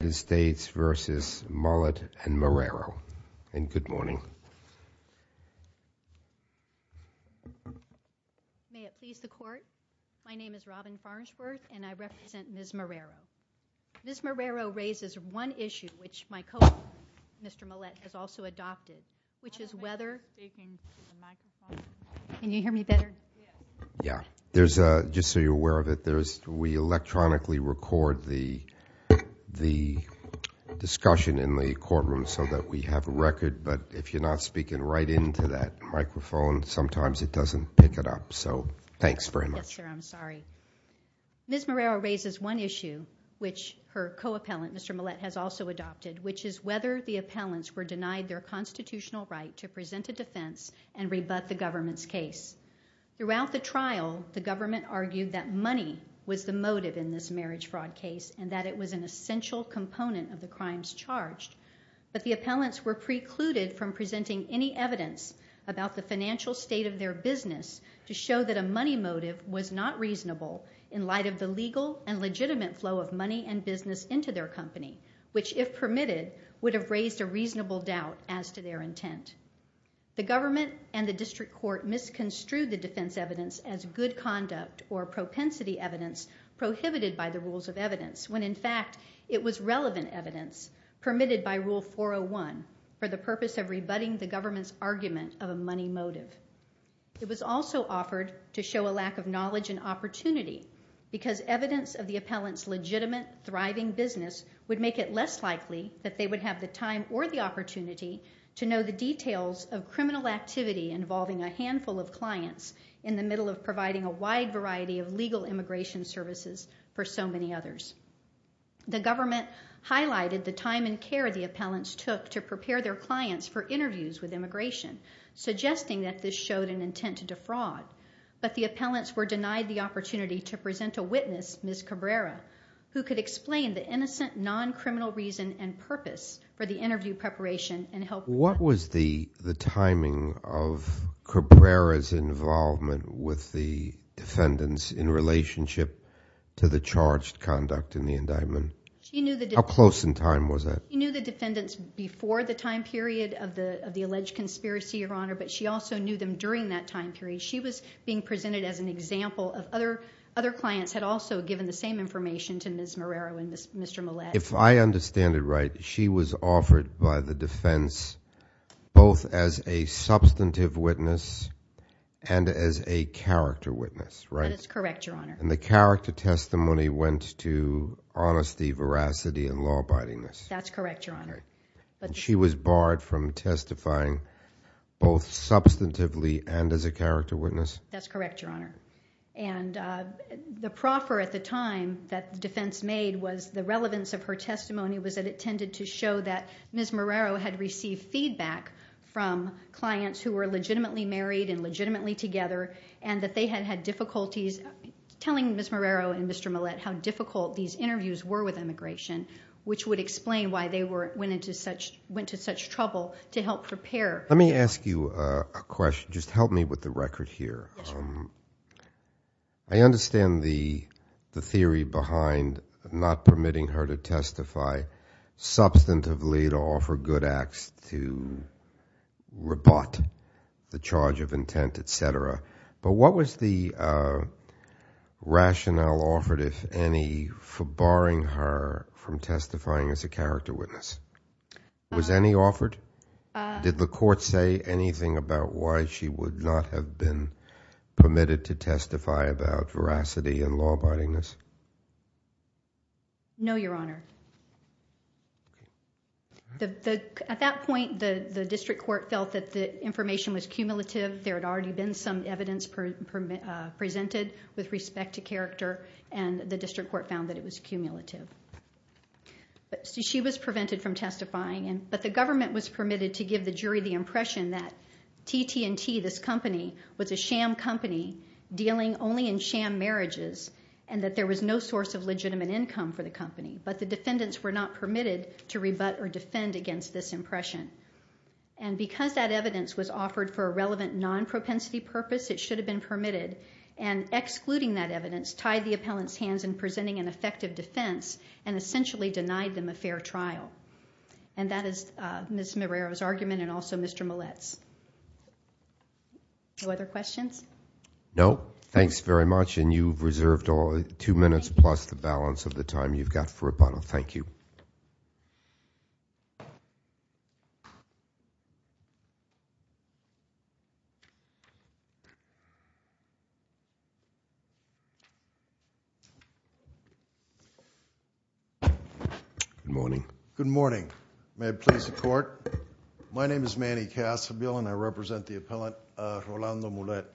United States v. Mulet and Marrero, and good morning. May it please the Court, my name is Robin Farnsworth and I represent Ms. Marrero. Ms. Marrero raises one issue, which my colleague, Mr. Mulet, has also adopted, which is whether... Ms. Marrero raises one issue, which her co-appellant, Mr. Mulet, has also adopted, which is whether the appellants were denied their constitutional right to present a defense and rebut the government's case. But the appellants were precluded from presenting any evidence about the financial state of their business to show that a money motive was not reasonable in light of the legal and legitimate flow of money and business into their company, which, if permitted, would have raised a reasonable doubt as to their intent. The government and the district court misconstrued the defense evidence as good conduct or propensity evidence prohibited by the rules of evidence when, in fact, it was relevant evidence permitted by Rule 401 for the purpose of rebutting the government's argument of a money motive. It was also offered to show a lack of knowledge and opportunity because evidence of the appellant's legitimate, thriving business would make it less likely that they would have the time or the opportunity to know the details of criminal activity involving a handful of clients in the middle of providing a wide variety of legal immigration services for so many others. The government highlighted the time and care the appellants took to prepare their clients for interviews with immigration, suggesting that this showed an intent to defraud. But the appellants were denied the opportunity to present a witness, Ms. Cabrera, who could explain the innocent, non-criminal reason and purpose for the interview preparation and help them. What was the timing of Cabrera's involvement with the defendants in relationship to the charged conduct in the indictment? How close in time was that? She knew the defendants before the time period of the alleged conspiracy, Your Honor, but she also knew them during that time period. She was being presented as an example of other clients had also given the same information to Ms. Morero and Mr. Millett. If I understand it right, she was offered by the defense both as a substantive witness and as a character witness, right? That is correct, Your Honor. And the character testimony went to honesty, veracity, and law abidingness. That's correct, Your Honor. And she was barred from testifying both substantively and as a character witness? That's correct, Your Honor. And the proffer at the time that the defense made was the relevance of her testimony was that it tended to show that Ms. Morero had received feedback from clients who were legitimately married and legitimately together and that they had had difficulties telling Ms. Morero and Mr. Millett how difficult these interviews were with immigration, which would explain why they went into such trouble to help prepare. Let me ask you a question. Just help me with the record here. I understand the theory behind not permitting her to testify substantively to offer good acts to rebut the charge of intent, etc. But what was the rationale offered, if any, for barring her from testifying as a character witness? Was any offered? Did the court say anything about why she would not have been permitted to testify about veracity and law abidingness? No, Your Honor. At that point, the district court felt that the information was cumulative. There had already been some evidence presented with respect to character, and the district court found that it was cumulative. She was prevented from testifying, but the government was permitted to give the jury the impression that TT&T, this company, was a sham company dealing only in sham marriages, and that there was no source of legitimate income for the company. But the defendants were not permitted to rebut or defend against this impression. And because that evidence was offered for a relevant non-propensity purpose, it should have been permitted. And excluding that evidence tied the appellant's hands in presenting an effective defense, and essentially denied them a fair trial. And that is Ms. Marrero's argument and also Mr. Millett's. No other questions? No, thanks very much, and you've reserved two minutes plus the balance of the time you've got for rebuttal. Thank you. Good morning. My name is Manny Casseville, and I represent the appellant, Rolando Millett.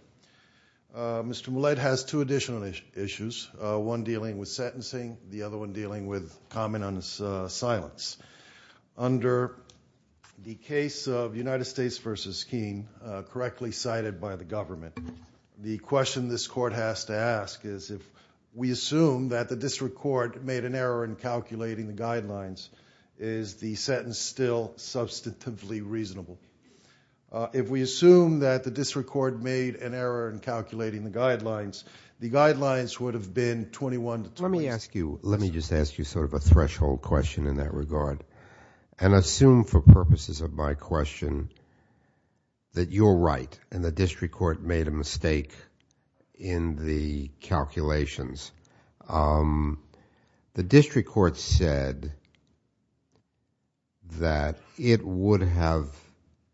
Mr. Millett has two additional issues, one dealing with sentencing, the other one dealing with common silence. Under the case of United States v. Keene, correctly cited by the government, the question this court has to ask is if we assume that the district court made an error in calculating the guidelines, is the sentence still substantively reasonable? If we assume that the district court made an error in calculating the guidelines, the guidelines would have been 21 to 26. Let me just ask you sort of a threshold question in that regard, and assume for purposes of my question that you're right and the district court made a mistake in the calculations. The district court said that it would have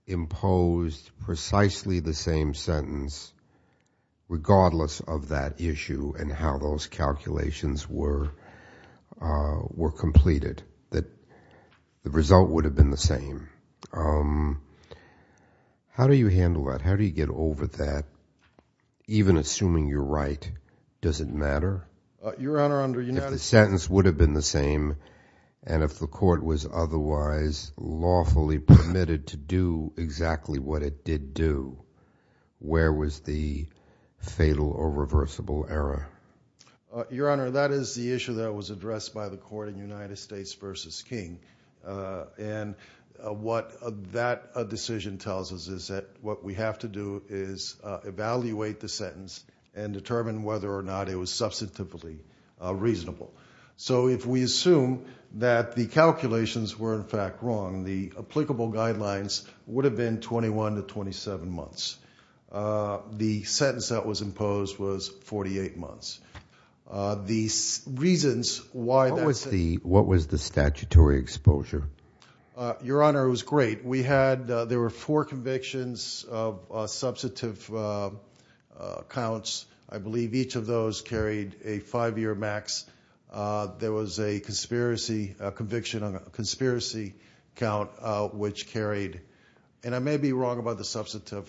imposed precisely the same sentence, regardless of that issue and how those calculations were completed. The result would have been the same. How do you handle that? How do you get over that, even assuming you're right, does it matter? If the sentence would have been the same and if the court was otherwise lawfully permitted to do exactly what it did do, where was the fatal or reversible error? Your Honor, that is the issue that was addressed by the court in United States v. Keene, and what that decision tells us is that what we have to do is evaluate the sentence and determine whether or not it was substantively reasonable. If we assume that the calculations were in fact wrong, the applicable guidelines would have been 21 to 27 months. The sentence that was imposed was 48 months. What was the statutory exposure? Your Honor, it was great. There were four convictions of substantive counts. I believe each of those carried a five-year max. There was a conviction on a conspiracy count which carried, and I may be wrong about the substantive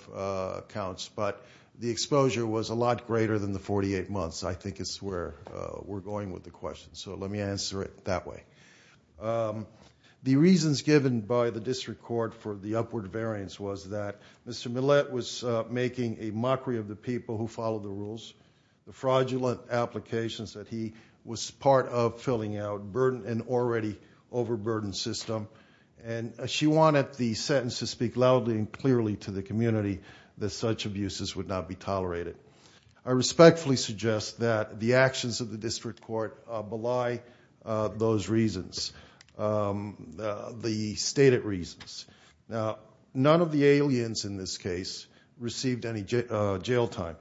counts, but the exposure was a lot greater than the 48 months. I think it's where we're going with the question, so let me answer it that way. The reasons given by the district court for the upward variance was that Mr. Millett was making a mockery of the people who followed the rules. The fraudulent applications that he was part of filling out, and already overburdened system. She wanted the sentence to speak loudly and clearly to the community that such abuses would not be tolerated. I respectfully suggest that the actions of the district court belie those reasons, the stated reasons. Now, none of the aliens in this case received any jail time,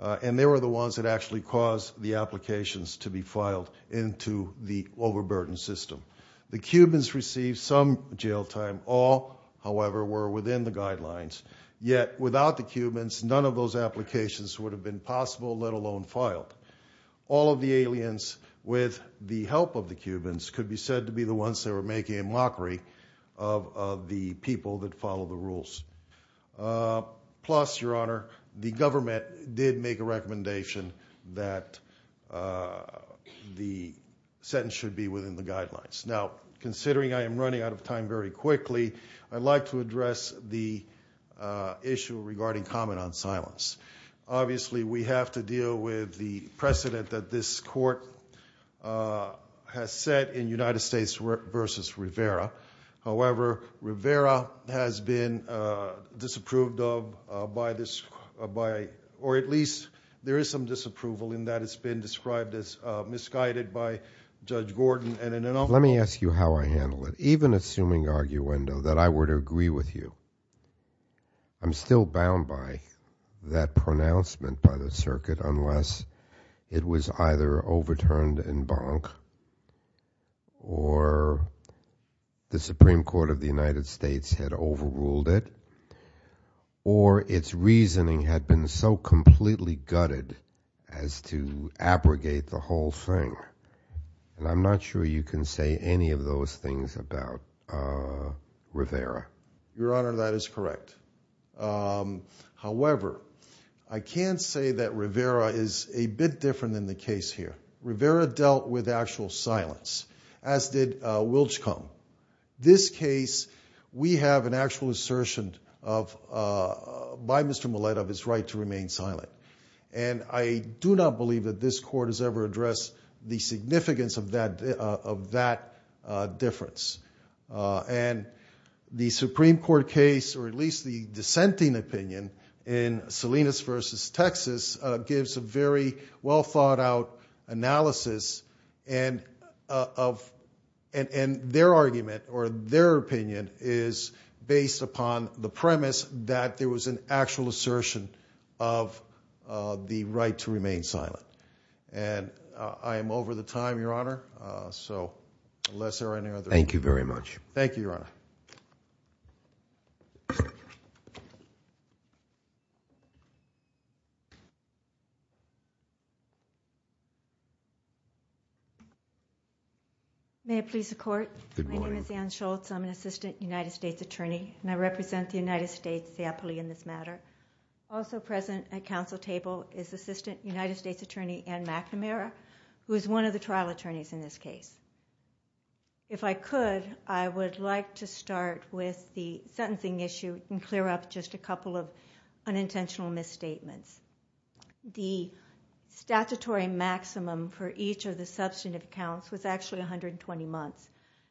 and they were the ones that actually caused the applications to be filed into the overburdened system. The Cubans received some jail time. All, however, were within the guidelines. Yet, without the Cubans, none of those applications would have been possible, let alone filed. All of the aliens, with the help of the Cubans, could be said to be the ones that were making a mockery of the people that followed the rules. Plus, Your Honor, the government did make a recommendation that the sentence should be within the guidelines. Now, considering I am running out of time very quickly, I'd like to address the issue regarding comment on silence. Obviously, we have to deal with the precedent that this court has set in United States v. Rivera. However, Rivera has been disapproved of by, or at least there is some disapproval in that it's been described as misguided by Judge Gordon. Let me ask you how I handle it. Even assuming, arguendo, that I were to agree with you, I'm still bound by that pronouncement by the circuit, unless it was either overturned in bonk, or the Supreme Court of the United States had overruled it, or its reasoning had been so completely gutted as to abrogate the whole thing. And I'm not sure you can say any of those things about Rivera. Your Honor, that is correct. However, I can say that Rivera is a bit different than the case here. Rivera dealt with actual silence, as did Wilchcombe. This case, we have an actual assertion by Mr. Millett of his right to remain silent. And I do not believe that this court has ever addressed the significance of that difference. And the Supreme Court case, or at least the dissenting opinion, in Salinas v. Texas, gives a very well thought out analysis, and their argument, or their opinion, is based upon the premise that there was an actual assertion of the right to remain silent. And I am over the time, Your Honor, so unless there are any other questions. Thank you, Your Honor. May it please the Court. My name is Ann Schultz. I'm an assistant United States attorney, and I represent the United States in this matter. Also present at council table is assistant United States attorney Ann McNamara, who is one of the trial attorneys in this case. If I could, I would like to start with the sentencing issue and clear up just a couple of unintentional misstatements. The statutory maximum for each of the substantive counts was actually 120 months,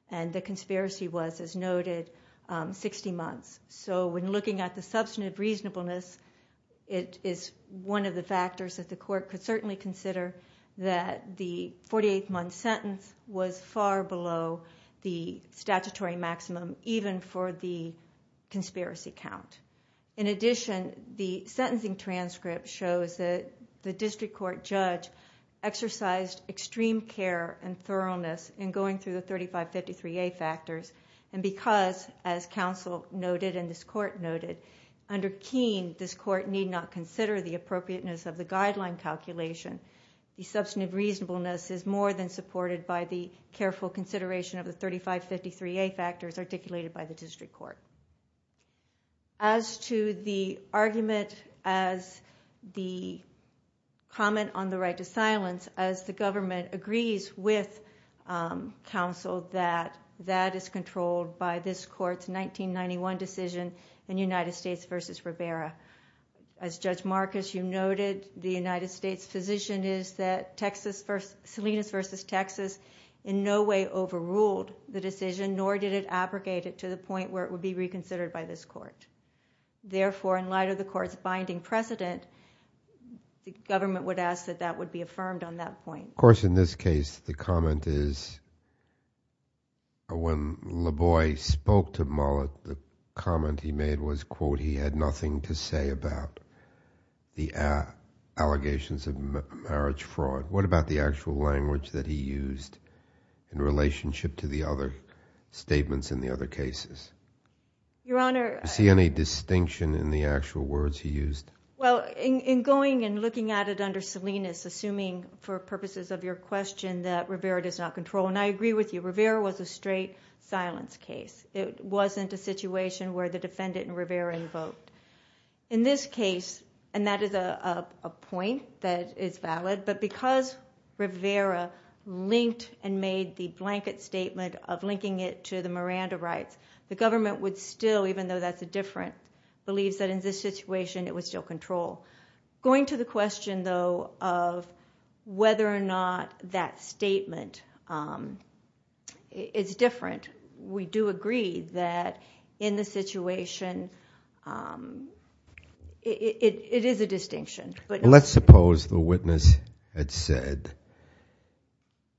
and the conspiracy was, as noted, 60 months. So when looking at the substantive reasonableness, it is one of the factors that the court could certainly consider that the 48-month sentence was far below the statutory maximum, even for the conspiracy count. In addition, the sentencing transcript shows that the district court judge exercised extreme care and thoroughness in going through the 3553A factors, and because, as council noted and this court noted, under Keene, this court need not consider the appropriateness of the guideline calculation. The substantive reasonableness is more than supported by the careful consideration of the 3553A factors articulated by the district court. As to the argument as the comment on the right to silence, as the government agrees with council that that is controlled by this court's 1991 decision in United States v. Rivera, as Judge Marcus, you noted, the United States position is that Salinas v. Texas in no way overruled the decision, nor did it abrogate it to the point where it would be reconsidered by this court. Therefore, in light of the court's binding precedent, the government would ask that that would be affirmed on that point. Of course, in this case, the comment is, when LaVoie spoke to Mullet, the comment he made was, quote, he had nothing to say about the allegations of marriage fraud. What about the actual language that he used in relationship to the other statements in the other cases? Do you see any distinction in the actual words he used? Well, in going and looking at it under Salinas, assuming for purposes of your question that Rivera does not control, and I agree with you, Rivera was a straight silence case. It wasn't a situation where the defendant and Rivera invoked. In this case, and that is a point that is valid, but because Rivera linked and made the blanket statement of linking it to the Miranda rights, the government would still, even though that's a different belief, that in this situation it would still control. Going to the question, though, of whether or not that statement is different, we do agree that in this situation it is a distinction. Let's suppose the witness had said,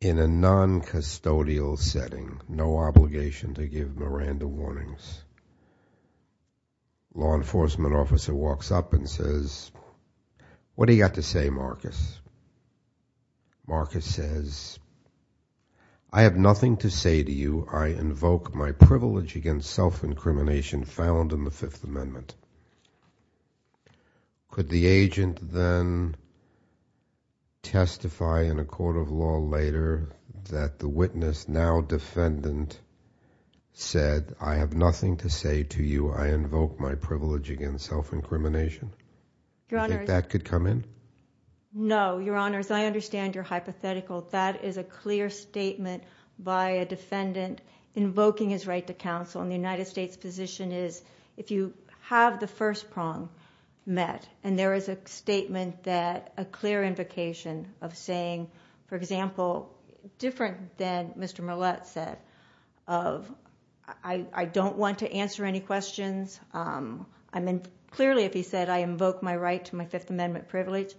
in a non-custodial setting, no obligation to give Miranda warnings. Law enforcement officer walks up and says, what do you have to say, Marcus? Marcus says, I have nothing to say to you. I invoke my privilege against self-incrimination found in the Fifth Amendment. Could the agent then testify in a court of law later that the witness, now defendant, said, I have nothing to say to you. I invoke my privilege against self-incrimination? Do you think that could come in? No. Your Honor, as I understand your hypothetical, that is a clear statement by a defendant invoking his right to counsel. The United States position is, if you have the first prong met, and there is a statement that, a clear invocation of saying, for example, different than Mr. Millett said of, I don't want to answer any questions. Clearly, if he said, I invoke my right to my Fifth Amendment privilege,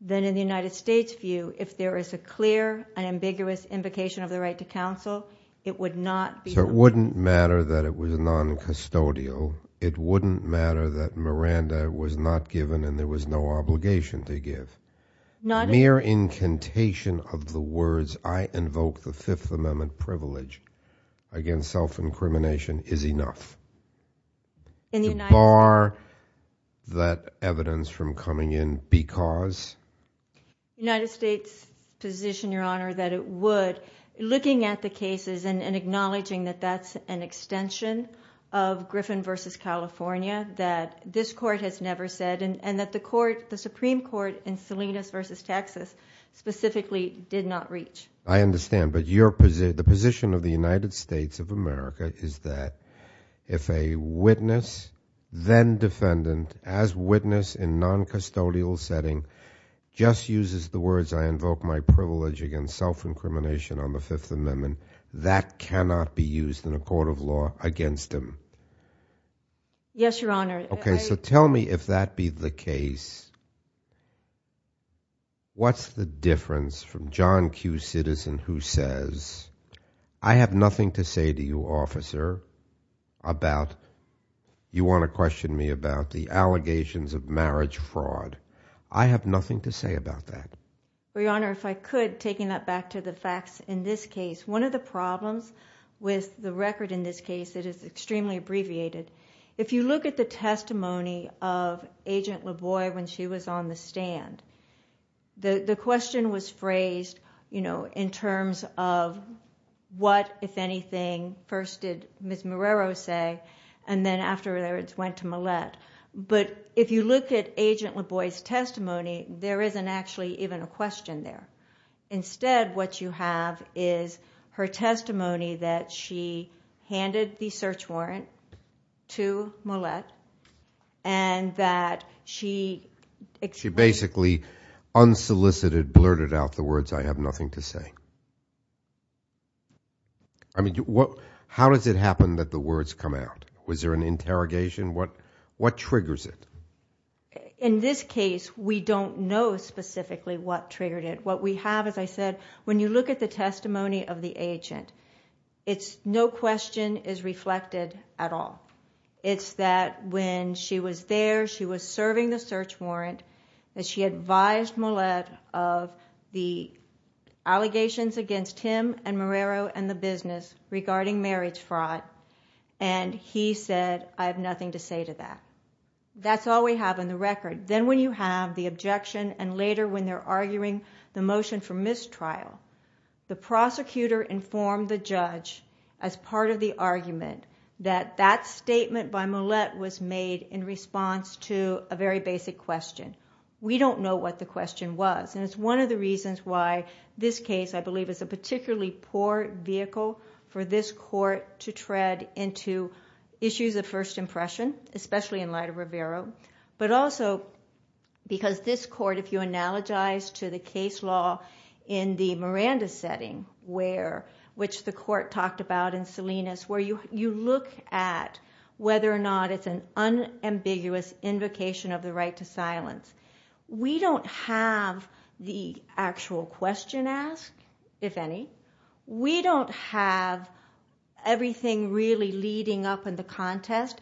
then in the United States view, if there is a clear and ambiguous invocation of the right to counsel, it would not be. It wouldn't matter that it was non-custodial. It wouldn't matter that Miranda was not given and there was no obligation to give. Mere incantation of the words, I invoke the Fifth Amendment privilege against self-incrimination is enough. To bar that evidence from coming in because... of Griffin v. California that this Court has never said and that the Supreme Court in Salinas v. Texas specifically did not reach. I understand, but the position of the United States of America is that if a witness, then defendant, as witness in non-custodial setting, just uses the words, I invoke my privilege against self-incrimination on the Fifth Amendment, that cannot be used in a court of law against him. Yes, Your Honor. Okay, so tell me if that be the case, what's the difference from John Q. Citizen who says, I have nothing to say to you, officer, about... you want to question me about the allegations of marriage fraud. I have nothing to say about that. Your Honor, if I could, taking that back to the facts in this case. One of the problems with the record in this case that is extremely abbreviated, if you look at the testimony of Agent LaVoie when she was on the stand, the question was phrased in terms of what, if anything, first did Ms. Marrero say and then afterwards went to Millett. But if you look at Agent LaVoie's testimony, there isn't actually even a question there. Instead, what you have is her testimony that she handed the search warrant to Millett and that she... She basically unsolicited blurted out the words, I have nothing to say. I mean, how does it happen that the words come out? Was there an interrogation? What triggers it? In this case, we don't know specifically what triggered it. What we have, as I said, when you look at the testimony of the agent, it's no question is reflected at all. It's that when she was there, she was serving the search warrant, that she advised Millett of the allegations against him and Marrero and the business regarding marriage fraud and he said, I have nothing to say to that. That's all we have on the record. Then when you have the objection and later when they're arguing the motion for mistrial, the prosecutor informed the judge as part of the argument that that statement by Millett was made in response to a very basic question. We don't know what the question was and it's one of the reasons why this case, I believe, is a particularly poor vehicle for this court to tread into issues of first impression, especially in light of Marrero, but also because this court, if you analogize to the case law in the Miranda setting, which the court talked about in Salinas, where you look at whether or not it's an unambiguous invocation of the right to silence. We don't have the actual question asked, if any. We don't have everything really leading up in the contest.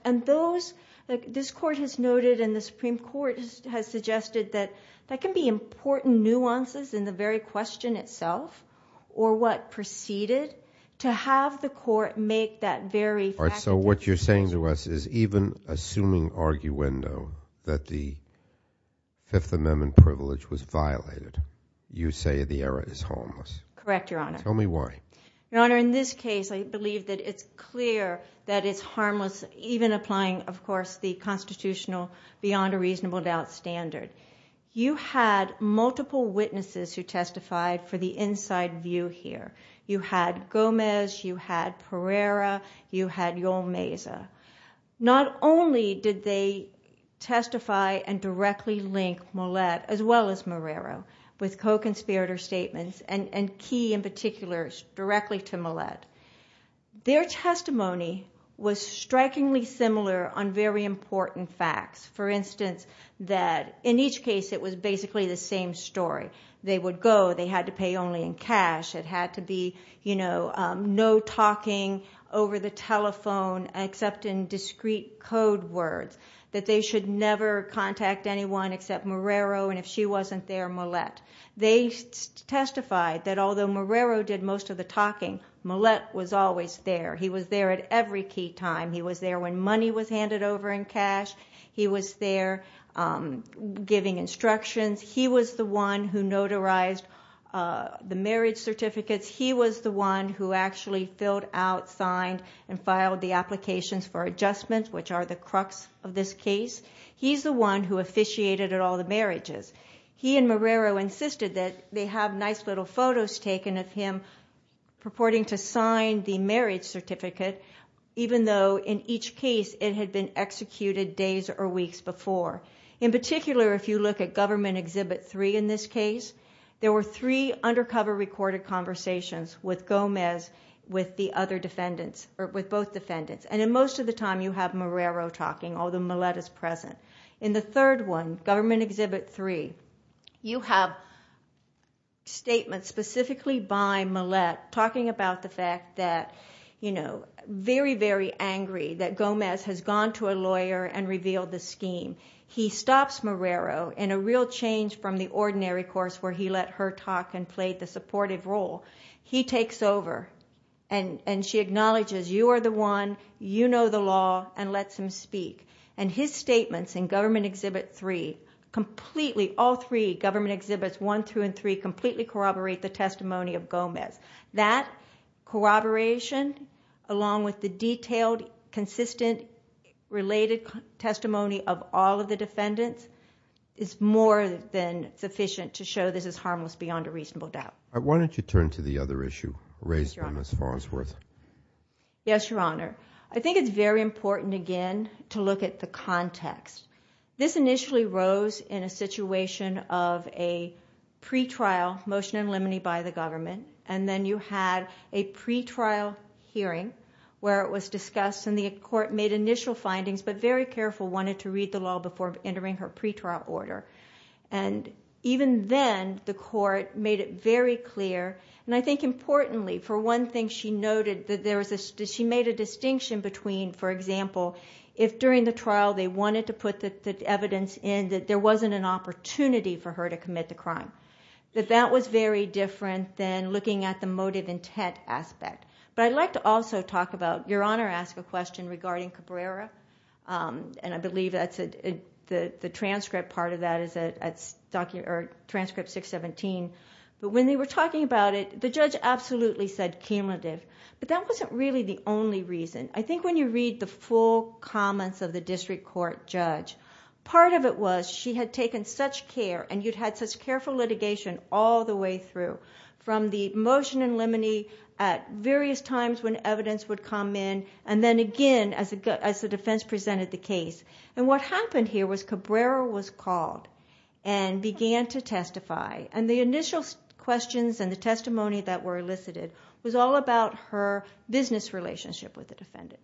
This court has noted and the Supreme Court has suggested that there can be important nuances in the very question itself or what preceded to have the court make that very fact. So what you're saying to us is even assuming arguendo that the Fifth Amendment privilege was violated, you say the error is harmless. Correct, Your Honor. Tell me why. Your Honor, in this case, I believe that it's clear that it's harmless, even applying, of course, the constitutional beyond a reasonable doubt standard. You had multiple witnesses who testified for the inside view here. You had Gomez, you had Pereira, you had Yolmeza. Not only did they testify and directly link Millett, as well as Marrero, with co-conspirator statements, and Key in particular directly to Millett. Their testimony was strikingly similar on very important facts. For instance, that in each case it was basically the same story. They would go, they had to pay only in cash. It had to be no talking over the telephone except in discrete code words. That they should never contact anyone except Marrero, and if she wasn't there, Millett. They testified that although Marrero did most of the talking, Millett was always there. He was there at every key time. He was there when money was handed over in cash. He was there giving instructions. He was the one who notarized the marriage certificates. He was the one who actually filled out, signed, and filed the applications for adjustments, which are the crux of this case. He's the one who officiated at all the marriages. He and Marrero insisted that they have nice little photos taken of him purporting to sign the marriage certificate, even though in each case it had been executed days or weeks before. In particular, if you look at Government Exhibit 3 in this case, there were three undercover recorded conversations with Gomez with both defendants. Most of the time you have Marrero talking, although Millett is present. In the third one, Government Exhibit 3, you have statements specifically by Millett talking about the fact that, you know, very, very angry that Gomez has gone to a lawyer and revealed the scheme. He stops Marrero in a real change from the ordinary course where he let her talk and played the supportive role. He takes over, and she acknowledges, you are the one, you know the law, and lets him speak. And his statements in Government Exhibit 3, completely, all three, Government Exhibits 1 through 3, completely corroborate the testimony of Gomez. That corroboration, along with the detailed, consistent, related testimony of all of the defendants, is more than sufficient to show this is harmless beyond a reasonable doubt. Why don't you turn to the other issue raised by Ms. Farnsworth? Yes, Your Honor. I think it's very important again to look at the context. This initially rose in a situation of a pre-trial motion in limine by the government, and then you had a pre-trial hearing where it was discussed, and the court made initial findings, but very careful, wanted to read the law before entering her pre-trial order. And even then, the court made it very clear, and I think importantly, for one thing, she noted that she made a distinction between, for example, if during the trial they wanted to put the evidence in, that there wasn't an opportunity for her to commit the crime. That that was very different than looking at the motive intent aspect. But I'd like to also talk about, Your Honor asked a question regarding Cabrera, and I believe the transcript part of that is at Transcript 617, but when they were talking about it, the judge absolutely said cumulative, but that wasn't really the only reason. I think when you read the full comments of the district court judge, part of it was she had taken such care, and you'd had such careful litigation all the way through, from the motion in limine at various times when evidence would come in, and then again as the defense presented the case. And what happened here was Cabrera was called and began to testify, and the initial questions and the testimony that were elicited was all about her business relationship with the defendant.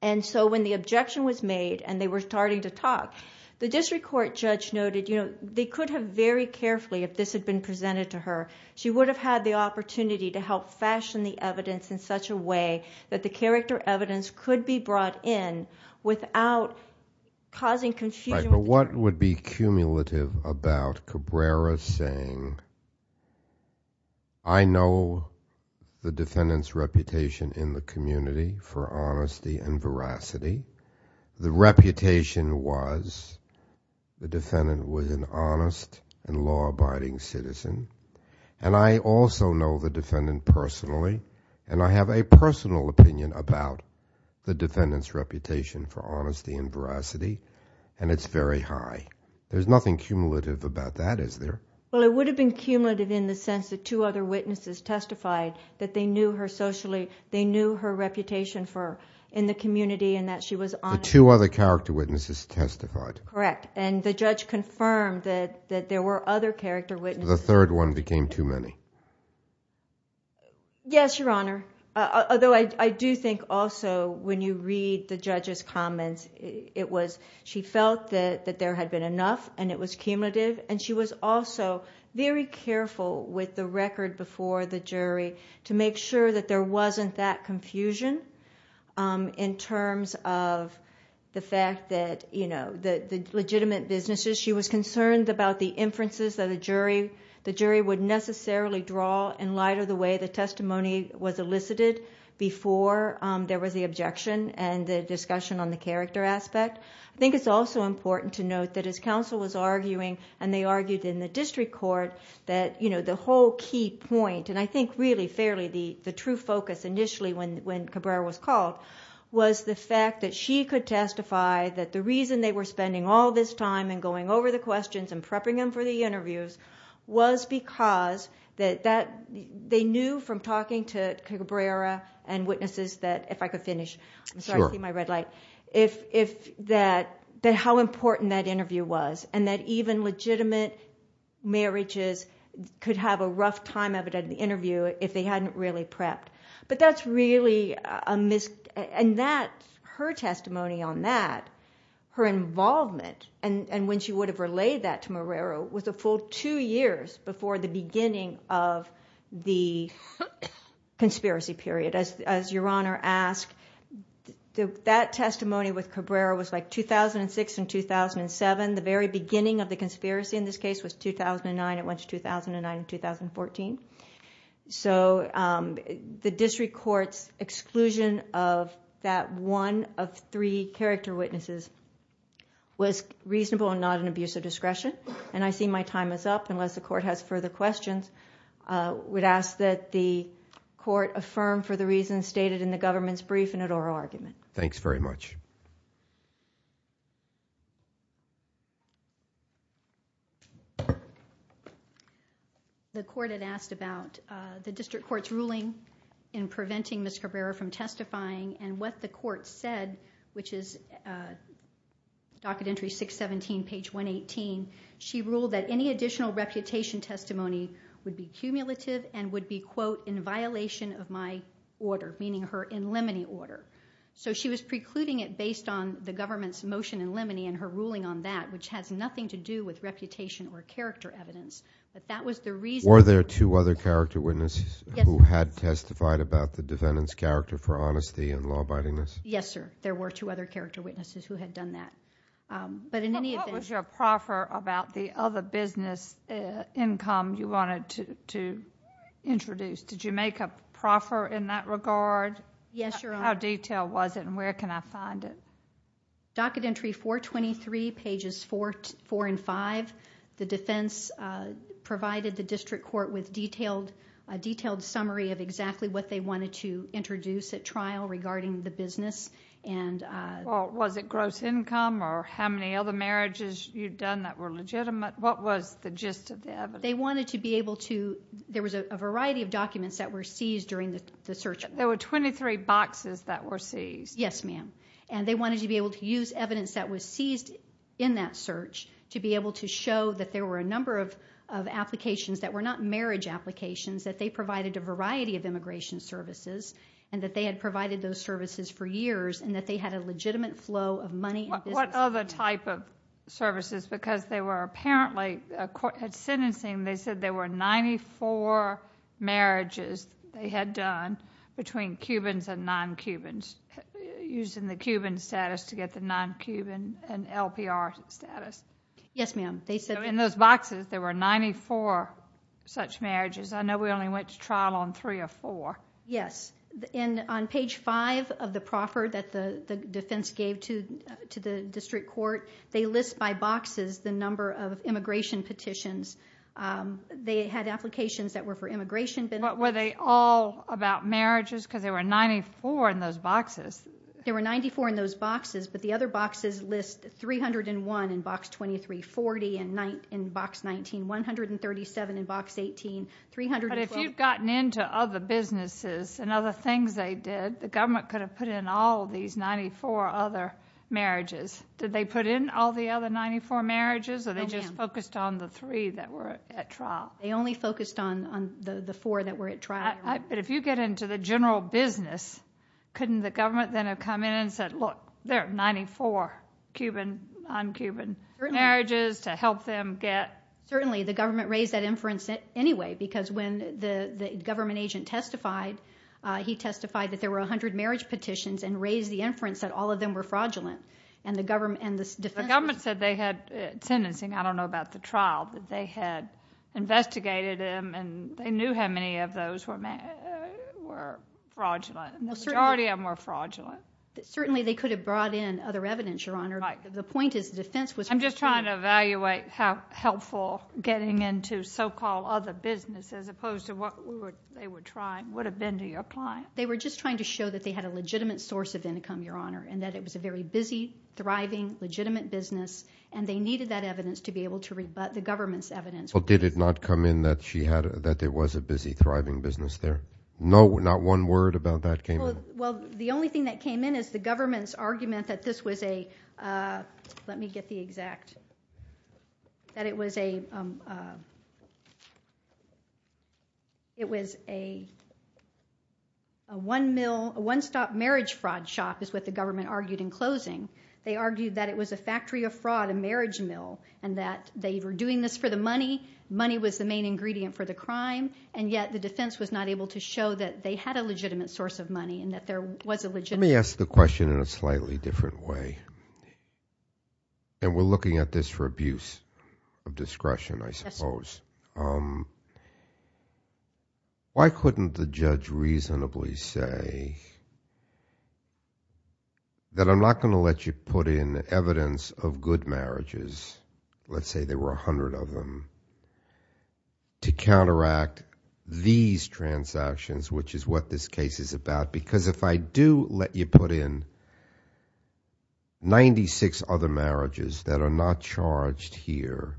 And so when the objection was made, and they were starting to talk, the district court judge noted they could have very carefully, if this had been presented to her, she would have had the opportunity to help fashion the evidence in such a way that the character evidence could be brought in without causing confusion. Right, but what would be cumulative about Cabrera saying, I know the defendant's reputation in the community for honesty and veracity, the reputation was the defendant was an honest and law-abiding citizen, and I also know the defendant personally, and I have a personal opinion There's nothing cumulative about that, is there? Well, it would have been cumulative in the sense that two other witnesses testified that they knew her socially, they knew her reputation in the community, and that she was honest. The two other character witnesses testified. Correct, and the judge confirmed that there were other character witnesses. The third one became too many. Yes, Your Honor, although I do think also when you read the judge's comments, she felt that there had been enough, and it was cumulative, and she was also very careful with the record before the jury to make sure that there wasn't that confusion in terms of the fact that the legitimate businesses, she was concerned about the inferences that the jury would necessarily draw in light of the way the testimony was elicited before there was the objection and the discussion on the character aspect. I think it's also important to note that as counsel was arguing, and they argued in the district court, that the whole key point, and I think really fairly the true focus initially when Cabrera was called, was the fact that she could testify that the reason they were spending all this time and going over the questions and prepping them for the interviews was because they knew from talking to Cabrera and witnesses that, if I could finish, I'm sorry, I see my red light, that how important that interview was, and that even legitimate marriages could have a rough time of it at the interview if they hadn't really prepped. But that's really a mis- And her testimony on that, her involvement, and when she would have relayed that to Cabrera was a full two years before the beginning of the conspiracy period. As Your Honor asked, that testimony with Cabrera was like 2006 and 2007. The very beginning of the conspiracy in this case was 2009. It went to 2009 and 2014. So the district court's exclusion of that one of three character witnesses was reasonable and not an abuse of discretion, and I see my time is up unless the court has further questions. I would ask that the court affirm for the reasons stated in the government's brief in an oral argument. Thanks very much. The court had asked about the district court's ruling in preventing Ms. Cabrera from testifying, and what the court said, which is docket entry 617, page 118. She ruled that any additional reputation testimony would be cumulative and would be, quote, in violation of my order, meaning her in limine order. So she was precluding it based on the government's motion in limine and her ruling on that, which has nothing to do with reputation or character evidence. But that was the reason- Were there two other character witnesses who had testified about the defendant's character for honesty and law-abidingness? Yes, sir. There were two other character witnesses who had done that. But in any event- What was your proffer about the other business income you wanted to introduce? Did you make a proffer in that regard? Yes, Your Honor. How detailed was it, and where can I find it? Docket entry 423, pages 4 and 5. The defense provided the district court with a detailed summary of exactly what they wanted to introduce at trial regarding the business. Was it gross income or how many other marriages you'd done that were legitimate? What was the gist of the evidence? They wanted to be able to- There was a variety of documents that were seized during the search. There were 23 boxes that were seized. Yes, ma'am. And they wanted to be able to use evidence that was seized in that search to be able to show that there were a number of applications that were not marriage applications, that they provided a variety of immigration services and that they had provided those services for years and that they had a legitimate flow of money- What other type of services? Because they were apparently- At sentencing, they said there were 94 marriages they had done between Cubans and non-Cubans, using the Cuban status to get the non-Cuban and LPR status. Yes, ma'am. In those boxes, there were 94 such marriages. I know we only went to trial on three or four. Yes. On page 5 of the proffer that the defense gave to the district court, they list by boxes the number of immigration petitions. They had applications that were for immigration- But were they all about marriages? Because there were 94 in those boxes. There were 94 in those boxes, but the other boxes list 301 in Box 2340 and Box 19, 137 in Box 18, 312- But if you'd gotten into other businesses and other things they did, the government could have put in all these 94 other marriages. Did they put in all the other 94 marriages? No, ma'am. Or they just focused on the three that were at trial? They only focused on the four that were at trial. But if you get into the general business, couldn't the government then have come in and said, Look, there are 94 Cuban, non-Cuban marriages to help them get- Certainly, the government raised that inference anyway because when the government agent testified, he testified that there were 100 marriage petitions and raised the inference that all of them were fraudulent. The government said they had sentencing. I don't know about the trial, but they had investigated them and they knew how many of those were fraudulent. The majority of them were fraudulent. Certainly, they could have brought in other evidence, Your Honor. The point is the defense was- I'm just trying to evaluate how helpful getting into so-called other businesses as opposed to what they were trying would have been to your client. They were just trying to show that they had a legitimate source of income, Your Honor, and that it was a very busy, thriving, legitimate business, and they needed that evidence to be able to rebut the government's evidence. Well, did it not come in that there was a busy, thriving business there? Not one word about that came in? Well, the only thing that came in is the government's argument that this was a- let me get the exact- that it was a one-stop marriage fraud shop is what the government argued in closing. They argued that it was a factory of fraud, a marriage mill, and that they were doing this for the money. Money was the main ingredient for the crime, and yet the defense was not able to show that they had a legitimate source of money and that there was a legitimate- Let me ask the question in a slightly different way. We're looking at this for abuse of discretion, I suppose. Why couldn't the judge reasonably say that I'm not going to let you put in evidence of good marriages, let's say there were a hundred of them, to counteract these transactions, which is what this case is about, because if I do let you put in 96 other marriages that are not charged here,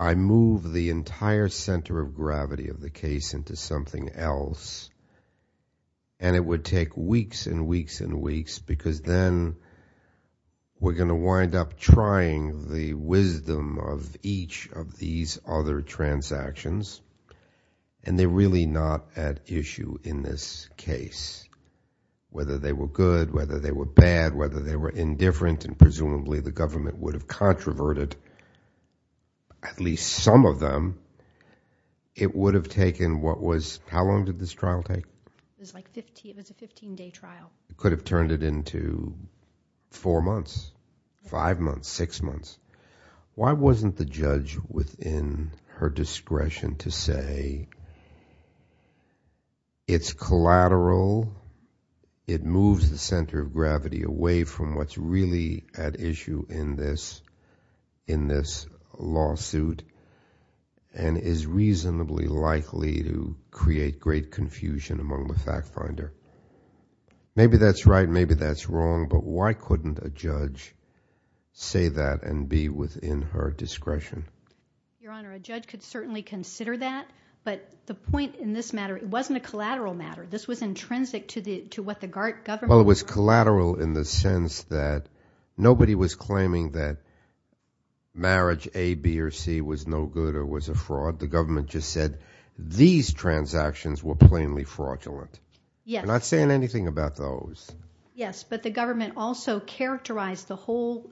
I move the entire center of gravity of the case into something else, and it would take weeks and weeks and weeks, because then we're going to wind up trying the wisdom of each of these other transactions, and they're really not at issue in this case, whether they were good, whether they were bad, whether they were indifferent, and presumably the government would have controverted at least some of them, it would have taken what was- how long did this trial take? It was a 15-day trial. It could have turned it into four months, five months, six months. Why wasn't the judge within her discretion to say it's collateral, it moves the center of gravity away from what's really at issue in this lawsuit and is reasonably likely to create great confusion among the fact finder? Maybe that's right, maybe that's wrong, but why couldn't a judge say that and be within her discretion? Your Honor, a judge could certainly consider that, but the point in this matter, it wasn't a collateral matter. This was intrinsic to what the government- Well, it was collateral in the sense that nobody was claiming that marriage A, B, or C was no good or was a fraud, the government just said these transactions were plainly fraudulent. Yes. We're not saying anything about those. Yes, but the government also characterized the whole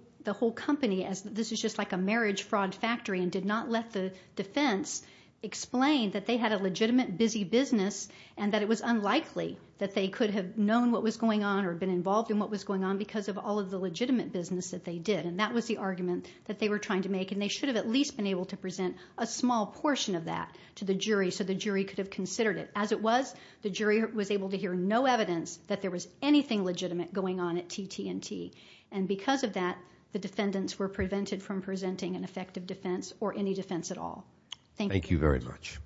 company as this is just like a marriage fraud factory and did not let the defense explain that they had a legitimate busy business and that it was unlikely that they could have known what was going on or been involved in what was going on because of all of the legitimate business that they did and that was the argument that they were trying to make and they should have at least been able to present a small portion of that to the jury so the jury could have considered it. As it was, the jury was able to hear no evidence that there was anything legitimate going on at TT&T and because of that, the defendants were prevented from presenting an effective defense or any defense at all. Thank you. Thank you very much.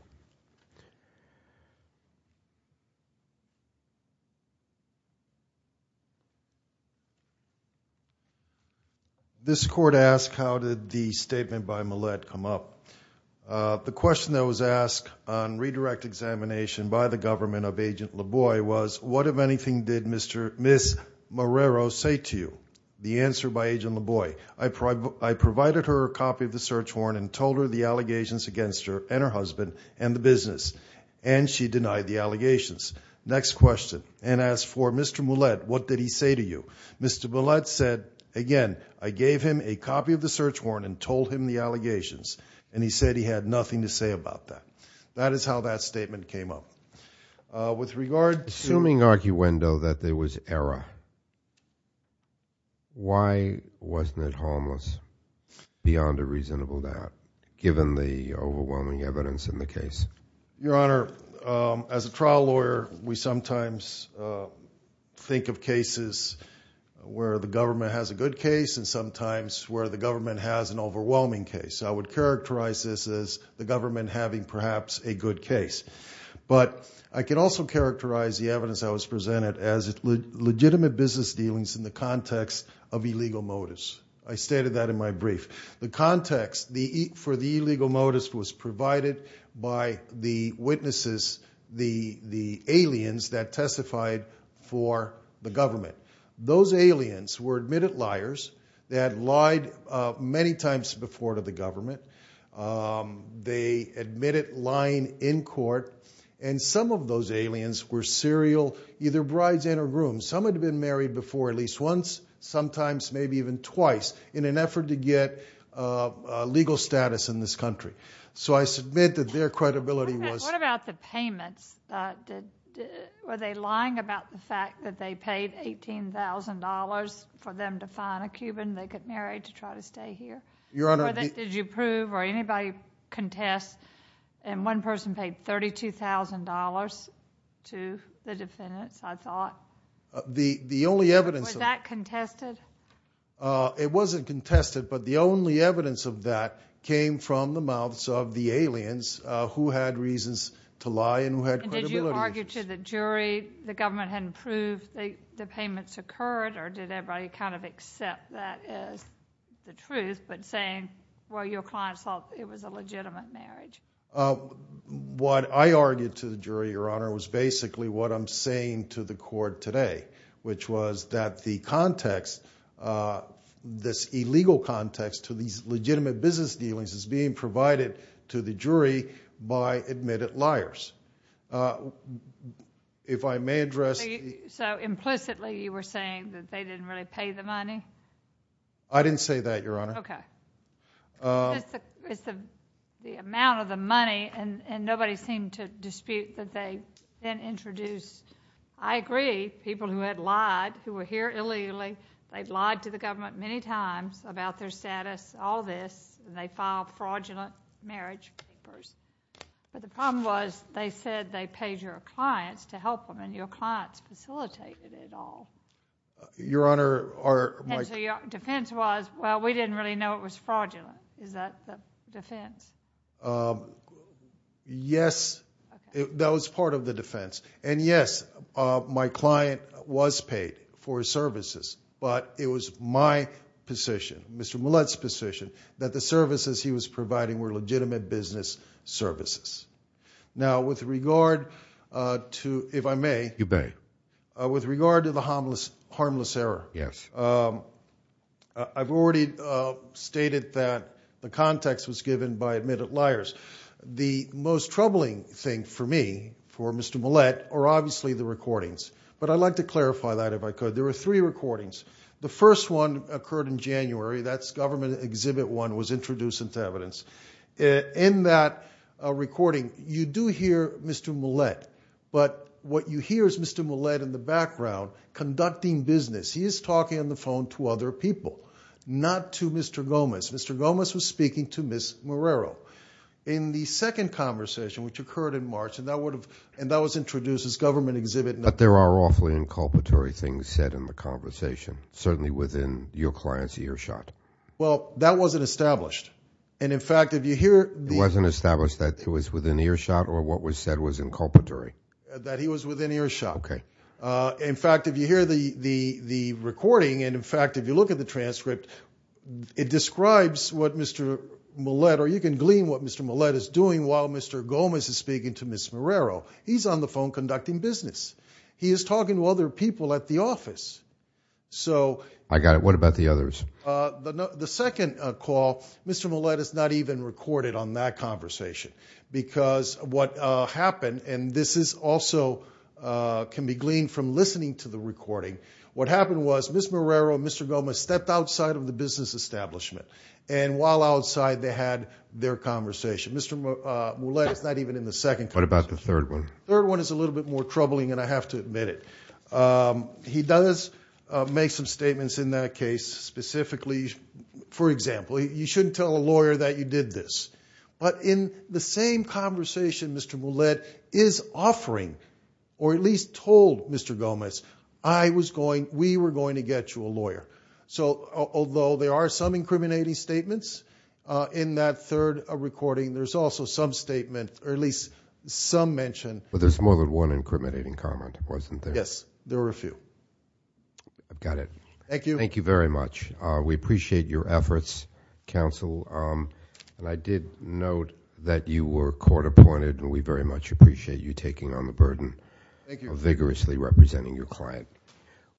This court asked how did the statement by Millett come up. The question that was asked on redirect examination by the government of Agent LaBoye was, what, if anything, did Ms. Marrero say to you? The answer by Agent LaBoye, I provided her a copy of the search warrant and told her the allegations against her and her husband and the business and she denied the allegations. Next question. And as for Mr. Millett, what did he say to you? Mr. Millett said, again, I gave him a copy of the search warrant and told him the allegations and he said he had nothing to say about that. That is how that statement came up. Assuming arguendo that there was error, why wasn't it homeless beyond a reasonable doubt, given the overwhelming evidence in the case? Your Honor, as a trial lawyer, we sometimes think of cases where the government has a good case and sometimes where the government has an overwhelming case. I would characterize this as the government having perhaps a good case. But I can also characterize the evidence that was presented as legitimate business dealings in the context of illegal motives. I stated that in my brief. The context for the illegal motives was provided by the witnesses, the aliens that testified for the government. Those aliens were admitted liars. They had lied many times before to the government. They admitted lying in court. And some of those aliens were serial, either brides and grooms. Some had been married before at least once, sometimes maybe even twice, in an effort to get legal status in this country. So I submit that their credibility was... What about the payments? Were they lying about the fact that they paid $18,000 for them to find a Cuban they could marry to try to stay here? Your Honor... Did you prove or anybody contest? And one person paid $32,000 to the defendants, I thought. The only evidence... Was that contested? It wasn't contested. But the only evidence of that came from the mouths of the aliens who had reasons to lie and who had credibility. And did you argue to the jury the government hadn't proved the payments occurred or did everybody kind of accept that as the truth but saying, well, your clients thought it was a legitimate marriage? What I argued to the jury, Your Honor, was basically what I'm saying to the court today, which was that the context, this illegal context to these legitimate business dealings, is being provided to the jury by admitted liars. If I may address... So implicitly you were saying that they didn't really pay the money? I didn't say that, Your Honor. Okay. It's the amount of the money, and nobody seemed to dispute that they then introduced... I agree, people who had lied, who were here illegally, they'd lied to the government many times about their status, all this, and they filed fraudulent marriage papers. But the problem was they said they paid your clients to help them and your clients facilitated it all. Your Honor, my... And so your defense was, well, we didn't really know it was fraudulent. Is that the defense? Yes, that was part of the defense. And yes, my client was paid for his services, but it was my position, Mr. Millett's position, that the services he was providing were legitimate business services. Now, with regard to, if I may... You may. With regard to the harmless error, I've already stated that the context was given by admitted liars. The most troubling thing for me, for Mr. Millett, are obviously the recordings. But I'd like to clarify that if I could. There were three recordings. The first one occurred in January. That's Government Exhibit 1 was introduced into evidence. In that recording, you do hear Mr. Millett, but what you hear is Mr. Millett in the background conducting business. He is talking on the phone to other people, not to Mr. Gomez. Mr. Gomez was speaking to Ms. Morero. In the second conversation, which occurred in March, and that was introduced as Government Exhibit... But there are awfully inculpatory things said in the conversation, certainly within your client's earshot. Well, that wasn't established. And, in fact, if you hear... It wasn't established that it was within earshot or what was said was inculpatory? That he was within earshot. Okay. In fact, if you hear the recording, and, in fact, if you look at the transcript, it describes what Mr. Millett, or you can glean what Mr. Millett is doing while Mr. Gomez is speaking to Ms. Morero. He's on the phone conducting business. He is talking to other people at the office. So... I got it. What about the others? The second call, Mr. Millett is not even recorded on that conversation because what happened, and this also can be gleaned from listening to the recording. What happened was Ms. Morero and Mr. Gomez stepped outside of the business establishment, and while outside they had their conversation. Mr. Millett is not even in the second conversation. What about the third one? The third one is a little bit more troubling, and I have to admit it. He does make some statements in that case, specifically, for example, you shouldn't tell a lawyer that you did this. But in the same conversation, Mr. Millett is offering, or at least told Mr. Gomez, I was going, we were going to get you a lawyer. So, although there are some incriminating statements in that third recording, there's also some statement, or at least some mention. But there's more than one incriminating comment, wasn't there? Yes, there were a few. I've got it. Thank you. Thank you very much. We appreciate your efforts, counsel, and I did note that you were court appointed, and we very much appreciate you taking on the burden of vigorously representing your client.